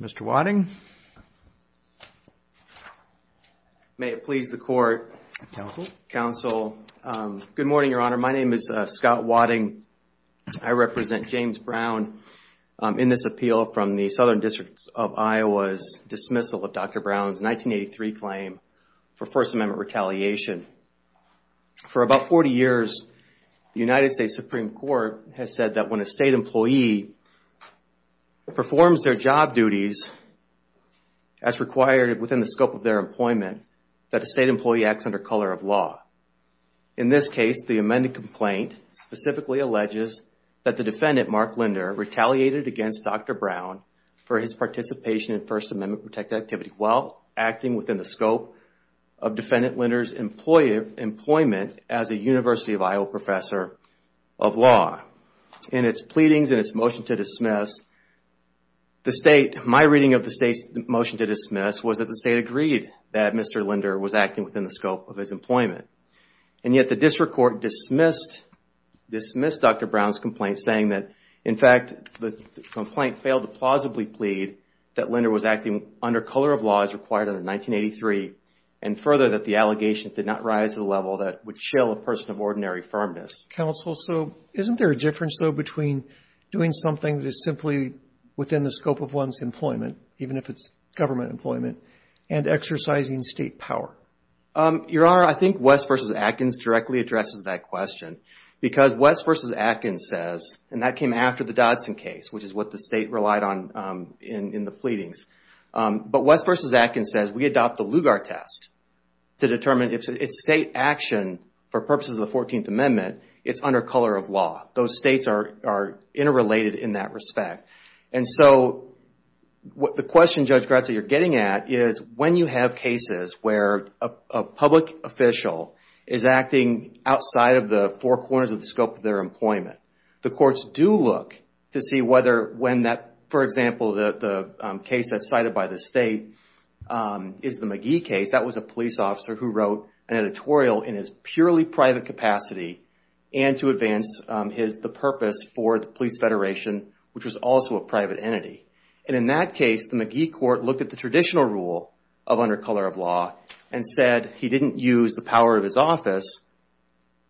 Mr. Wadding May it please the court Counsel Good morning, Your Honor. My name is Scott Wadding. I represent James Brown in this appeal from the Southern District of Iowa's dismissal of Dr. Brown's 1983 claim for First Amendment retaliation. For about 40 years, the United States Supreme Court has said that when a State employee performs their job duties as required within the scope of their employment, that a State employee acts under color of law. In this case, the amended complaint specifically alleges that the defendant, Marc Linder, retaliated against Dr. Brown for his participation in First Amendment-protected activity while acting within the scope of defendant Linder's employment as a University of Iowa professor of law. In its pleadings and its motion to dismiss, my reading of the State's motion to dismiss was that the State agreed that Mr. Linder was acting within the scope of his employment. And yet the District Court dismissed Dr. Brown's complaint saying that, in fact, the complaint failed to plausibly plead that Linder was acting under color of law as required under 1983 and further that the allegations did not rise to the level that would chill a person of ordinary firmness. Counsel, so isn't there a difference though between doing something that is simply within the scope of one's employment, even if it's government employment, and exercising State power? Your Honor, I think West v. Atkins directly addresses that question because West v. Atkins says, and that came after the Dodson case, which is what the State relied on in the pleadings. But West v. Atkins says, we adopt the Lugar test to determine if it's State action for purposes of the 14th Amendment, it's under color of law. Those States are interrelated in that respect. And so the question, Judge Gratz, that you're getting at is when you have cases where a public official is acting outside of the four corners of the scope of their employment, the courts do look to see whether, for example, the case that's cited by the State is the McGee case. That was a police officer who wrote an editorial in his purely private capacity and to advance the purpose for the Police Federation, which was also a private entity. And in that case, the McGee court looked at the traditional rule of under color of law and said he didn't use the power of his office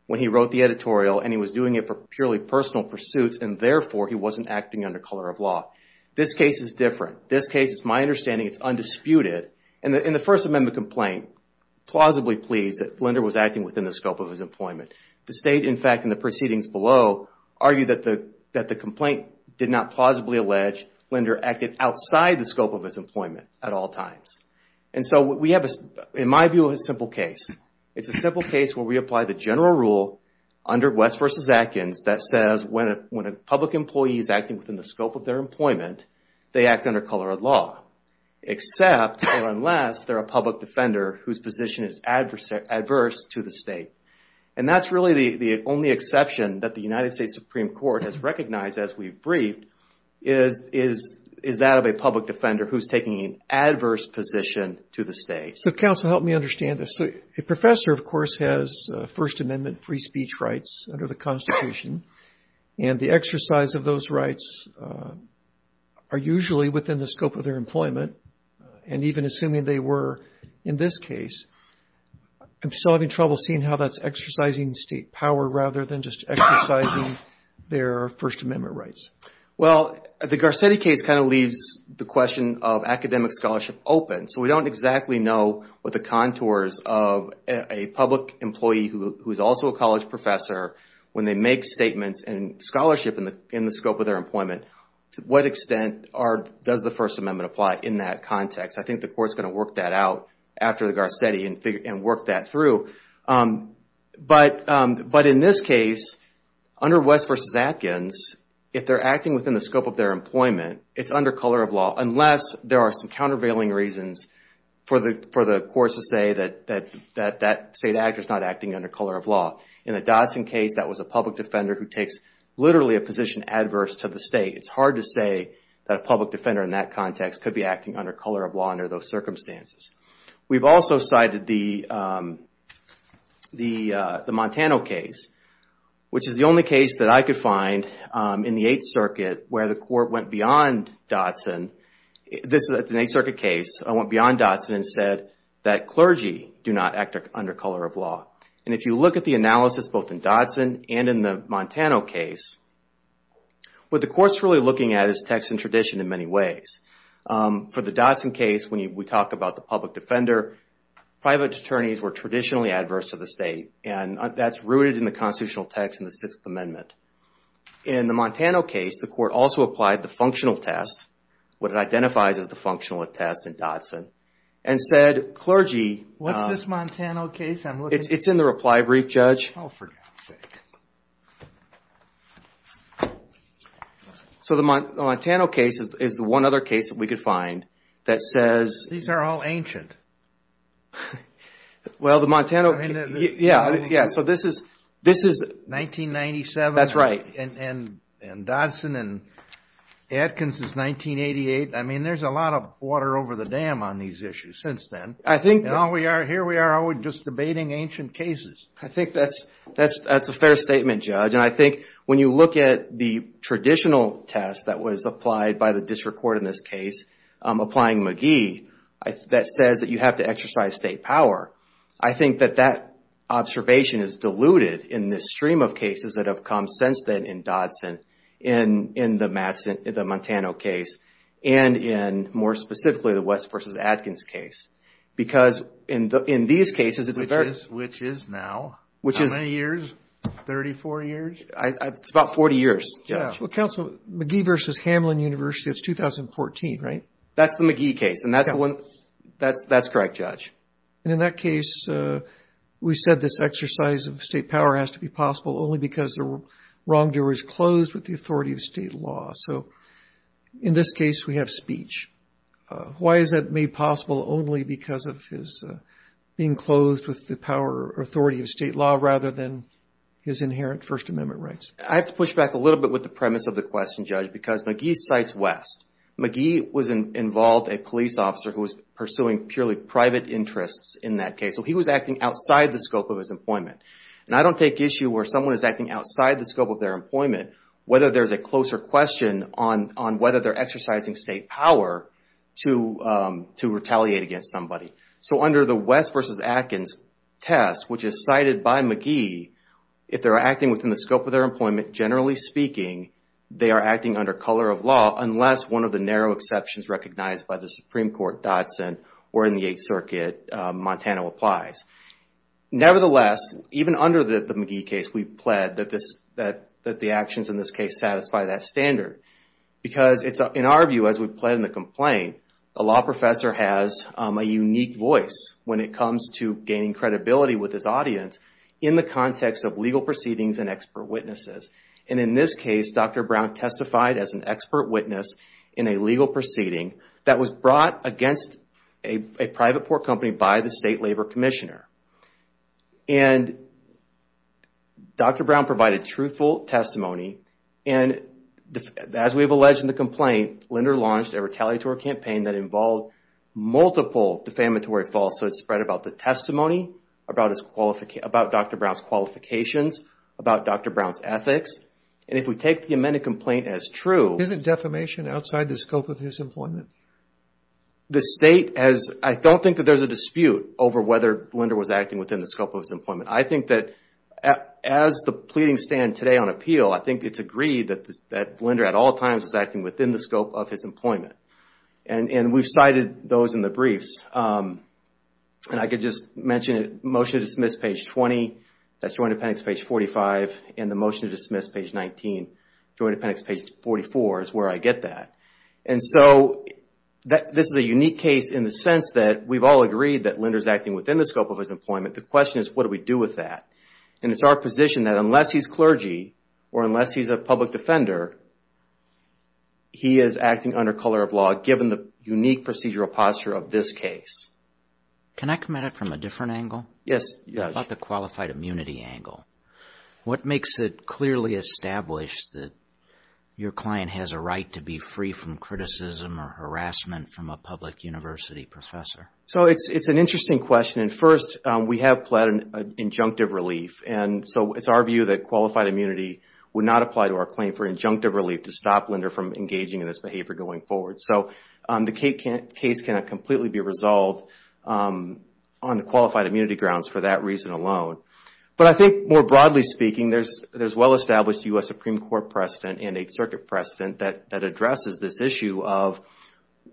when he wrote the editorial and he was doing it for purely personal pursuits and therefore he wasn't acting under color of law. This case is different. This case, it's my understanding, it's undisputed. In the First Amendment complaint, plausibly pleased that Linder was acting within the scope of his employment. The State, in fact, in the proceedings below, argued that the complaint did not plausibly allege Linder acted outside the scope of his employment at all times. And so we have, in my view, a simple case. It's a simple case where we apply the general rule under West v. Atkins that says when a public employee is acting within the scope of their employment, they act under color of law. Except, or unless, they're a public defender whose position is adverse to the State. And that's really the only exception that the United States Supreme Court has recognized as we've briefed is that of a public defender who's taking an adverse position to the State. So counsel, help me understand this. A professor, of course, has First Amendment free speech rights under the Constitution. And the exercise of those rights are usually within the scope of their employment. And even assuming they were in this case, I'm still having trouble seeing how that's exercising State power rather than just exercising their First Amendment rights. Well, the Garcetti case kind of leaves the question of academic scholarship open. So we don't exactly know what the contours of a public employee who's also a college professor, when they make statements and scholarship in the scope of their employment, to what extent does the First Amendment apply in that context. I think the Court's going to work that out after the Garcetti and work that through. But in this case, under West v. Atkins, if they're acting within the scope of their employment, it's under color of law. Unless there are some countervailing reasons for the courts to say that that State actor's not acting under color of law. In the Dodson case, that was a public defender who takes literally a position adverse to the State. It's hard to say that a public defender in that context could be acting under color of law under those circumstances. We've also cited the Montana case, which is the only case that I could find in the Eighth Circuit where the Court went beyond Dodson. This is an Eighth Circuit case. I went beyond Dodson and said that clergy do not act under color of law. And if you look at the analysis both in Dodson and in the Montana case, what the Court's really looking at is text and tradition in many ways. For the Dodson case, when we talk about the public defender, private attorneys were traditionally adverse to the State. And that's rooted in the constitutional text in the Sixth Amendment. In the Montana case, the Court also applied the functional test, what it identifies as the functional test in Dodson, and said clergy... What's this Montana case? It's in the reply brief, Judge. Oh, for God's sake. So the Montana case is the one other case that we could find that says... These are all ancient. Well, the Montana... Yeah, so this is... 1997. That's right. And Dodson and Atkins is 1988. I mean, there's a lot of water over the dam on these issues since then. I think... Here we are just debating ancient cases. I think that's a fair statement, Judge. And I think when you look at the traditional test that was applied by the District Court in this case, applying McGee, that says that you have to exercise State power. I think that that observation is diluted in this stream of cases that have come since then in Dodson, in the Montana case, and in, more specifically, the West v. Atkins case. Because in these cases, it's a very... Which is now. Which is... How many years? 34 years? It's about 40 years, Judge. Well, Counsel, McGee v. Hamlin University, that's 2014, right? That's the McGee case, and that's the one... Yeah. That's correct, Judge. And in that case, we said this exercise of State power has to be possible only because the wrongdoer is closed with the authority of State law. So in this case, we have speech. Why is it made possible only because of his being closed with the power or authority of State law rather than his inherent First Amendment rights? I have to push back a little bit with the premise of the question, Judge, because McGee cites West. McGee was involved, a police officer who was pursuing purely private interests in that case. So he was acting outside the scope of his employment. And I don't take issue where someone is acting outside the scope of their employment, whether there's a closer question on whether they're exercising State power to retaliate against somebody. So under the West v. Atkins test, which is cited by McGee, if they're acting within the scope of their employment, generally speaking, they are acting under color of law, unless one of the narrow exceptions recognized by the Supreme Court, Dodson, or in the Eighth Circuit, Montana, applies. Nevertheless, even under the McGee case, we pled that the actions in this case satisfy that standard. Because in our view, as we pled in the complaint, a law professor has a unique voice when it comes to gaining credibility with his audience in the context of legal proceedings and expert witnesses. And in this case, Dr. Brown testified as an expert witness in a legal proceeding that was brought against a private port company by the State Labor Commissioner. And Dr. Brown provided truthful testimony. And as we have alleged in the complaint, Linder launched a retaliatory campaign that involved multiple defamatory faults. So it's spread about the testimony, about Dr. Brown's qualifications, about Dr. Brown's ethics. And if we take the amended complaint as true... Isn't defamation outside the scope of his employment? The State has... I don't think that there's a dispute over whether Linder was acting within the scope of his employment. I think that as the pleadings stand today on appeal, I think it's agreed that Linder at all times is acting within the scope of his employment. And we've cited those in the briefs. And I could just mention it, Motion to Dismiss, page 20. That's Joint Appendix, page 45. And the Motion to Dismiss, page 19. Joint Appendix, page 44, is where I get that. And so, this is a unique case in the sense that we've all agreed that Linder's acting within the scope of his employment. The question is, what do we do with that? And it's our position that unless he's clergy or unless he's a public defender, he is acting under color of law given the unique procedural posture of this case. Can I come at it from a different angle? Yes. About the qualified immunity angle. What makes it clearly established that your client has a right to be free from criticism or harassment from a public university professor? So, it's an interesting question. And first, we have pled an injunctive relief. And so, it's our view that qualified immunity would not apply to our claim for injunctive relief to stop Linder from engaging in this behavior going forward. So, the case cannot completely be resolved on the qualified immunity grounds for that reason alone. But I think more broadly speaking, there's well-established U.S. Supreme Court precedent and Eighth Circuit precedent that addresses this issue of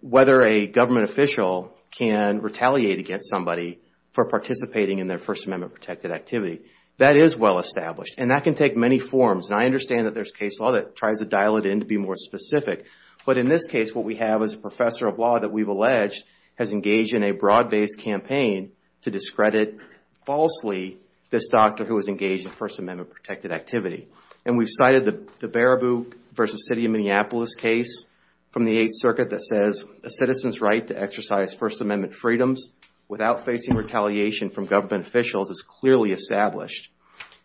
whether a government official can retaliate against somebody for participating in their First Amendment-protected activity. That is well-established. And that can take many forms. And I understand that there's case law that tries to dial it in to be more specific. But in this case, what we have is a professor of law that we've alleged has engaged in a broad-based campaign to discredit falsely this doctor who was engaged in First Amendment-protected activity. And we've cited the Baraboo v. City of Minneapolis case from the Eighth Circuit that says, a citizen's right to exercise First Amendment freedoms without facing retaliation from government officials is clearly established.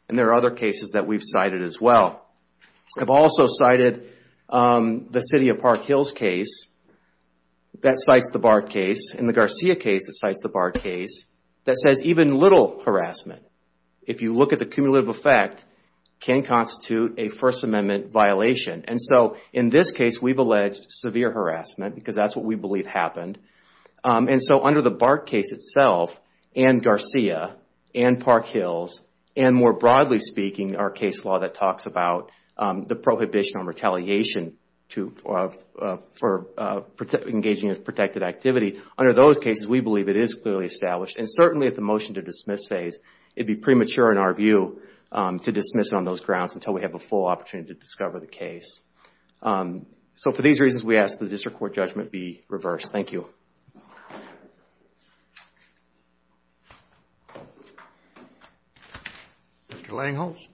And there are other cases that we've cited as well. I've also cited the City of Park Hills case that cites the BART case. And the Garcia case that cites the BART case that says even little harassment, if you look at the cumulative effect, can constitute a First Amendment violation. And so in this case, we've alleged severe harassment because that's what we believe happened. And so under the BART case itself and Garcia and Park Hills and, more broadly speaking, our case law that talks about the prohibition on retaliation for engaging in protected activity, under those cases, we believe it is clearly established. And certainly at the motion-to-dismiss phase, it would be premature in our view to dismiss it on those grounds until we have a full opportunity to discover the case. So for these reasons, we ask that the district court judgment be reversed. Thank you. Mr. Langholtz?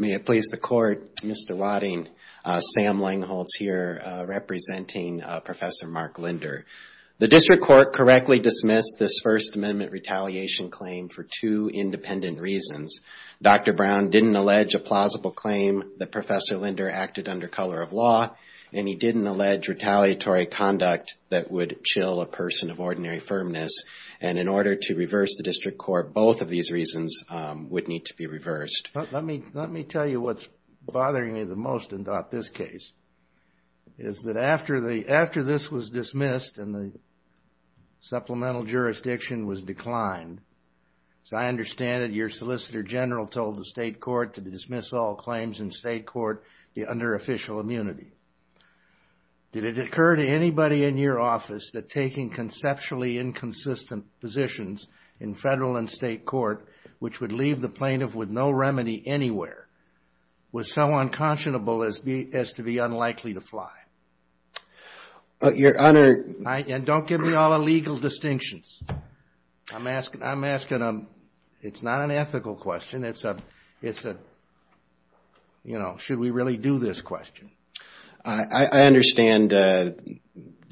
May it please the Court, Mr. Wadding, Sam Langholtz here representing Professor Mark Linder. The district court correctly dismissed this First Amendment retaliation claim for two independent reasons. Dr. Brown didn't allege a plausible claim that Professor Linder acted under color of law, and he didn't allege retaliatory conduct that would chill a person of ordinary firmness. And in order to reverse the district court, both of these reasons would need to be reversed. Let me tell you what's bothering me the most about this case, is that after this was dismissed and the supplemental jurisdiction was declined, as I understand it, your Solicitor General told the state court to dismiss all claims in state court under official immunity. Did it occur to anybody in your office that taking conceptually inconsistent positions in federal and state court, which would leave the plaintiff with no remedy anywhere, was so unconscionable as to be unlikely to fly? Your Honor... And don't give me all the legal distinctions. I'm asking, it's not an ethical question. It's a, you know, should we really do this question? I understand the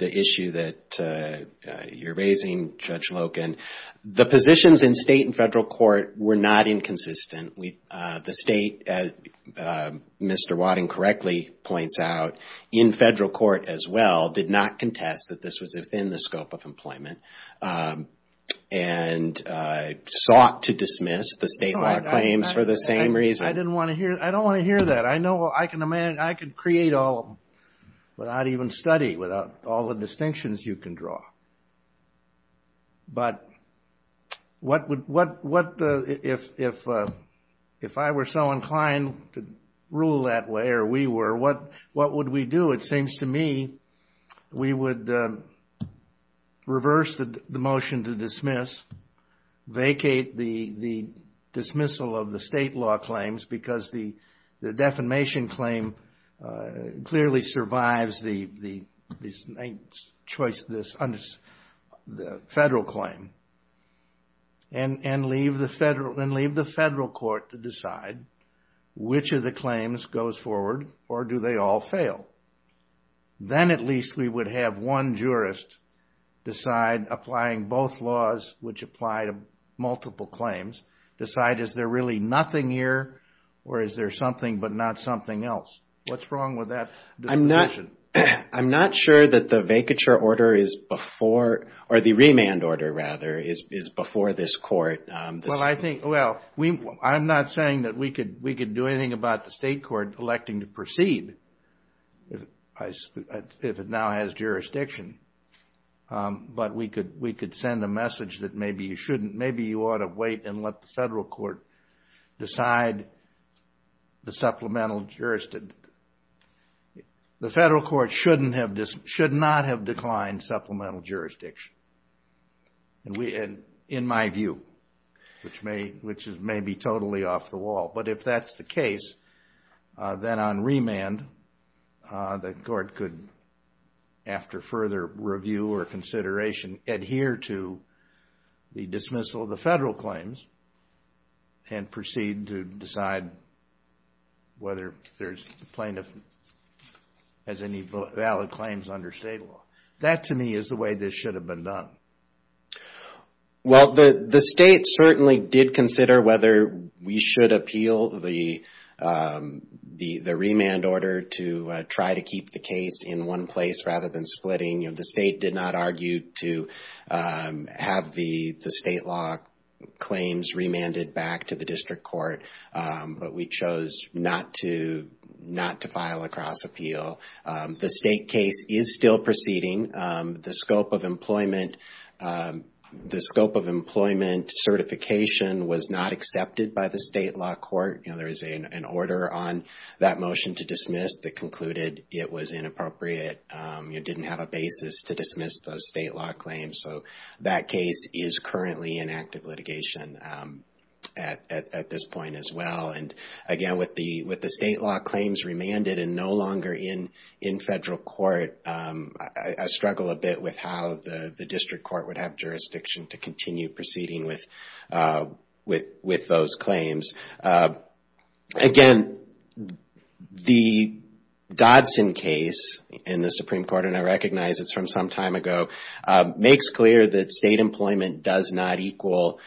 issue that you're raising, Judge Loken. The positions in state and federal court were not inconsistent. The state, as Mr. Wadding correctly points out, in federal court as well, did not contest that this was within the scope of employment and sought to dismiss the state law claims for the same reason. I didn't want to hear that. I don't want to hear that. I know I can create all without even study, without all the distinctions you can draw. But if I were so inclined to rule that way, or we were, what would we do? So it seems to me we would reverse the motion to dismiss, vacate the dismissal of the state law claims because the defamation claim clearly survives the federal claim, and leave the federal court to decide which of the claims goes forward or do they all fail. Then at least we would have one jurist decide, applying both laws, which apply to multiple claims, decide is there really nothing here or is there something but not something else. What's wrong with that disposition? I'm not sure that the vacature order is before, or the remand order, rather, is before this court. Well, I think, well, I'm not saying that we could do anything about the state court electing to proceed if it now has jurisdiction, but we could send a message that maybe you shouldn't, maybe you ought to wait and let the federal court decide the supplemental jurisdiction. The federal court should not have declined supplemental jurisdiction, in my view, which is maybe totally off the wall. But if that's the case, then on remand, the court could, after further review or consideration, adhere to the dismissal of the federal claims and proceed to decide whether there's plaintiff has any valid claims under state law. That, to me, is the way this should have been done. Well, the state certainly did consider whether we should appeal the remand order to try to keep the case in one place rather than splitting. The state did not argue to have the state law claims remanded back to the district court, but we chose not to file a cross-appeal. The state case is still proceeding. The scope of employment certification was not accepted by the state law court. There is an order on that motion to dismiss that concluded it was inappropriate, it didn't have a basis to dismiss those state law claims. So that case is currently in active litigation at this point as well. And again, with the state law claims remanded and no longer in federal court, I struggle a bit with how the district court would have jurisdiction to continue proceeding with those claims. Again, the Godson case in the Supreme Court, and I recognize it's from some time ago, makes clear that state employment does not equal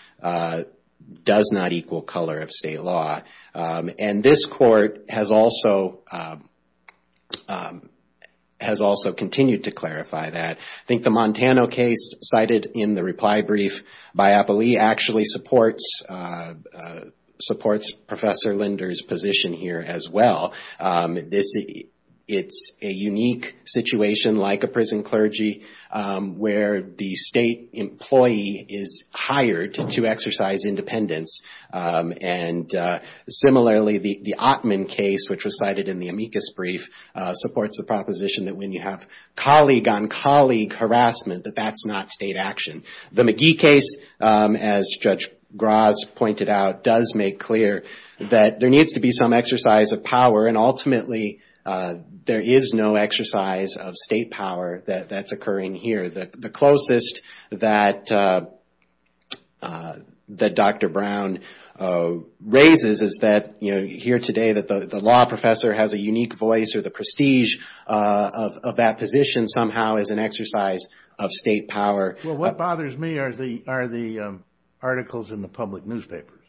color of state law. And this court has also continued to clarify that. I think the Montana case cited in the reply brief by Applee actually supports Professor Linder's position here as well. It's a unique situation like a prison clergy where the state employee is hired to exercise independence And similarly, the Ottman case, which was cited in the amicus brief, supports the proposition that when you have colleague-on-colleague harassment, that that's not state action. The McGee case, as Judge Graz pointed out, does make clear that there needs to be some exercise of power, and ultimately there is no exercise of state power that's occurring here. The closest that Dr. Brown raises is that you hear today that the law professor has a unique voice or the prestige of that position somehow is an exercise of state power. Well, what bothers me are the articles in the public newspapers,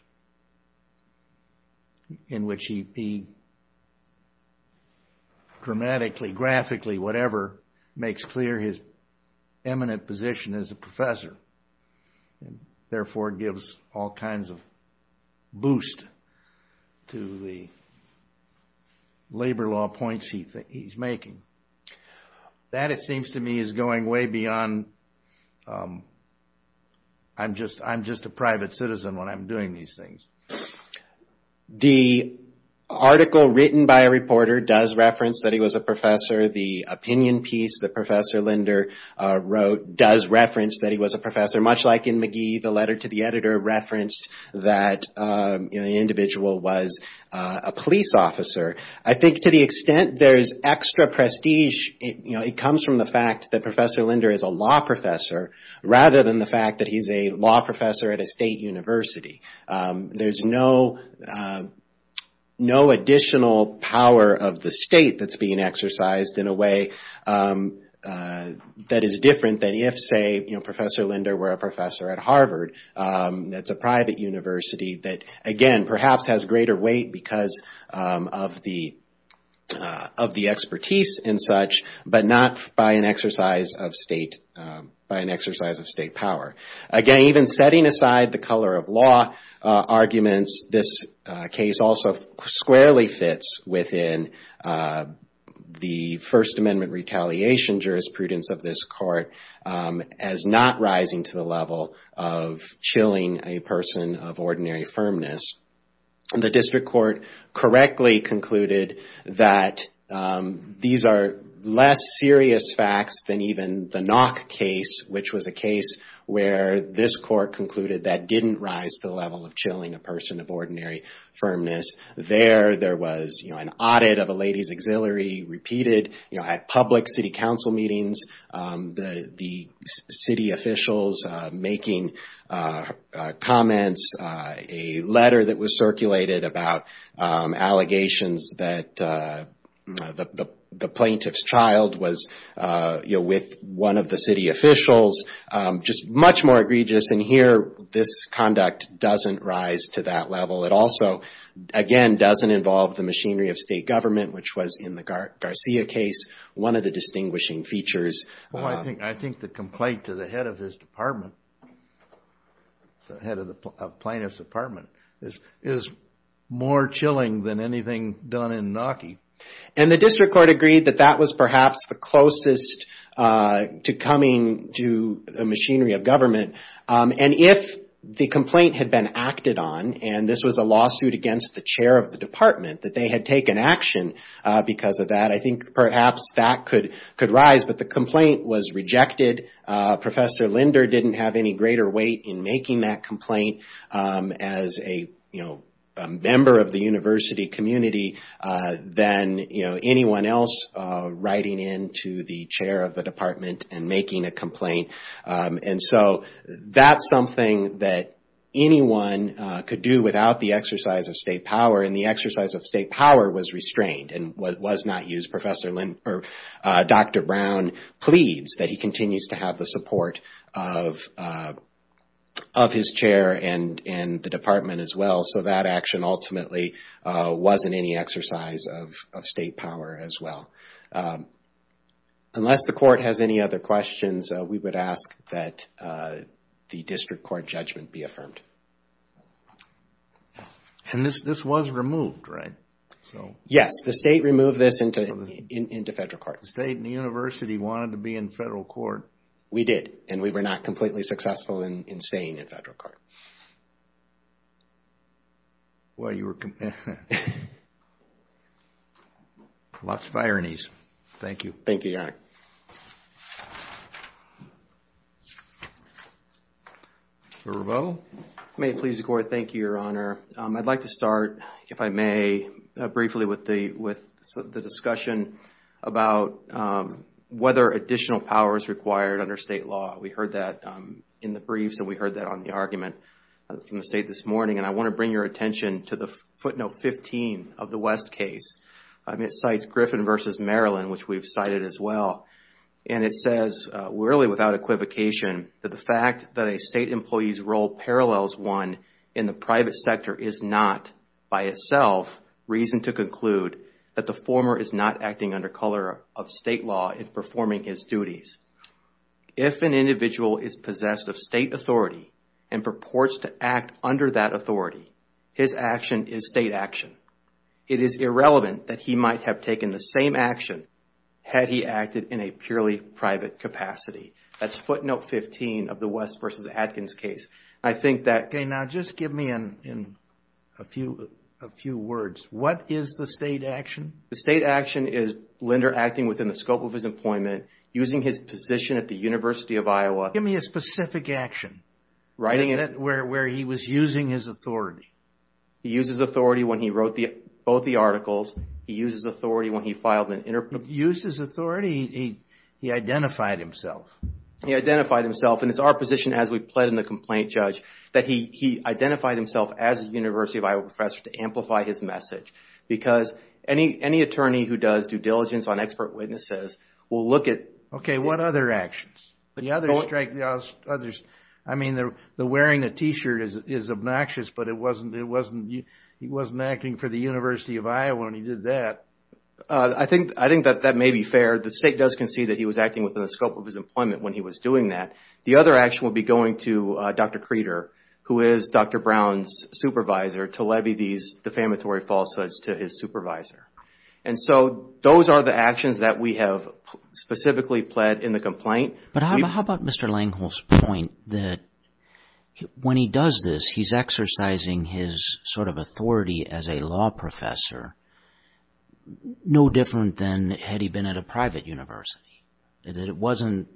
in which he dramatically, graphically, whatever, makes clear his eminent position as a professor. Therefore, it gives all kinds of boost to the labor law points he's making. That, it seems to me, is going way beyond, I'm just a private citizen when I'm doing these things. The article written by a reporter does reference that he was a professor. The opinion piece that Professor Linder wrote does reference that he was a professor, much like in McGee the letter to the editor referenced that the individual was a police officer. I think to the extent there's extra prestige, it comes from the fact that Professor Linder is a law professor, rather than the fact that he's a law professor at a state university. There's no additional power of the state that's being exercised in a way that is different than if, say, Professor Linder were a professor at Harvard, that's a private university that, again, perhaps has greater weight because of the expertise and such, but not by an exercise of state power. Again, even setting aside the color of law arguments, this case also squarely fits within the First Amendment retaliation jurisprudence of this court as not rising to the level of chilling a person of ordinary firmness. The district court correctly concluded that these are less serious facts than even the Knock case, which was a case where this court concluded that didn't rise to the level of chilling a person of ordinary firmness. There, there was an audit of a lady's auxiliary, repeated at public city council meetings, the city officials making comments, a letter that was circulated about allegations that the plaintiff's child was with one of the city officials, just much more egregious. And here, this conduct doesn't rise to that level. It also, again, doesn't involve the machinery of state government, which was in the Garcia case one of the distinguishing features. Well, I think, I think the complaint to the head of his department, the head of the plaintiff's department, is more chilling than anything done in Knockie. And the district court agreed that that was perhaps the closest to coming to the machinery of government. And if the complaint had been acted on, and this was a lawsuit against the chair of the department, that they had taken action because of that, I think perhaps that could, could rise. But the complaint was rejected. Professor Linder didn't have any greater weight in making that complaint as a, you know, member of the university community than, you know, anyone else writing in to the chair of the department and making a complaint. And so that's something that anyone could do without the exercise of state power. And the exercise of state power was restrained and was not used. Professor Linder, or Dr. Brown, pleads that he continues to have the support of his chair and the department as well. So that action ultimately wasn't any exercise of state power as well. Unless the court has any other questions, we would ask that the district court judgment be affirmed. And this was removed, right? Yes, the state removed this into federal court. The state and the university wanted to be in federal court. We did, and we were not completely successful in staying in federal court. Lots of ironies. Thank you. Thank you, Your Honor. May it please the court. Thank you, Your Honor. I'd like to start, if I may, briefly with the discussion about whether additional power is required under state law. We heard that in the briefs and we heard that on the argument from the state this morning. And I want to bring your attention to the footnote 15 of the West case. It cites Griffin v. Maryland, which we've cited as well. And it says, really without equivocation, that the fact that a state employee's role parallels one in the private sector is not, by itself, reason to conclude that the former is not acting under color of state law in performing his duties. If an individual is possessed of state authority and purports to act under that authority, his action is state action. It is irrelevant that he might have taken the same action had he acted in a purely private capacity. That's footnote 15 of the West v. Adkins case. Now, just give me a few words. What is the state action? The state action is Linder acting within the scope of his employment, using his position at the University of Iowa. Give me a specific action where he was using his authority. He used his authority when he wrote both the articles. He used his authority when he filed an interpretation. Used his authority? He identified himself. He identified himself, and it's our position as we plead in the complaint, Judge, that he identified himself as a University of Iowa professor to amplify his message. Because any attorney who does due diligence on expert witnesses will look at... Okay, what other actions? I mean, the wearing a T-shirt is obnoxious, but he wasn't acting for the University of Iowa when he did that. I think that that may be fair. The state does concede that he was acting within the scope of his employment when he was doing that. The other action would be going to Dr. Creeder, who is Dr. Brown's supervisor, to levy these defamatory falsehoods to his supervisor. And so those are the actions that we have specifically pled in the complaint. But how about Mr. Langholz's point that when he does this, he's exercising his sort of authority as a law professor no different than had he been at a private university? That it wasn't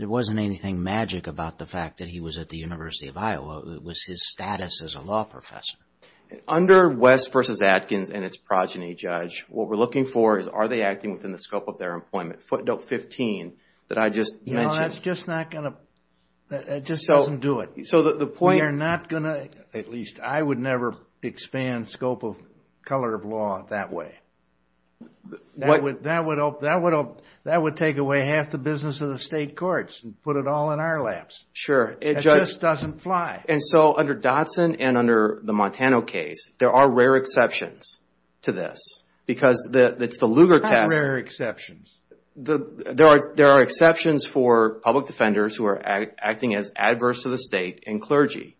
anything magic about the fact that he was at the University of Iowa. It was his status as a law professor. Under West v. Atkins and its progeny, Judge, what we're looking for is are they acting within the scope of their employment? Footnote 15 that I just mentioned. That just doesn't do it. I would never expand scope of color of law that way. That would take away half the business of the state courts and put it all in our laps. That just doesn't fly. And so under Dotson and under the Montana case, there are rare exceptions to this because it's the Lugar test. What rare exceptions? There are exceptions for public defenders who are acting as adverse to the state and clergy.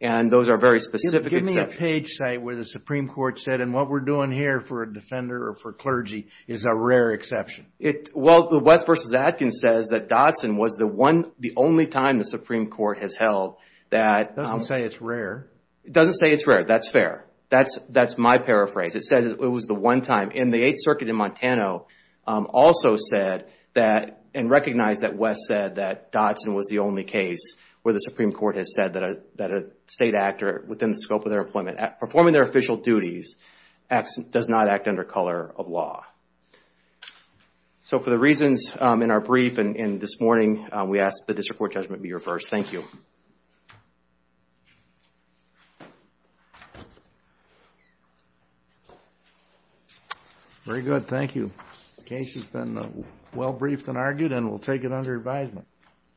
And those are very specific exceptions. Is there a page, say, where the Supreme Court said, and what we're doing here for a defender or for clergy is a rare exception? Well, the West v. Atkins says that Dotson was the only time the Supreme Court has held that... It doesn't say it's rare. It doesn't say it's rare. That's fair. That's my paraphrase. It says it was the one time. And the Eighth Circuit in Montana also said and recognized that West said that Dotson was the only case where the Supreme Court has said that a state actor, within the scope of their employment, performing their official duties does not act under color of law. So for the reasons in our brief and this morning, we ask that this report judgment be reversed. Thank you. Very good. Thank you.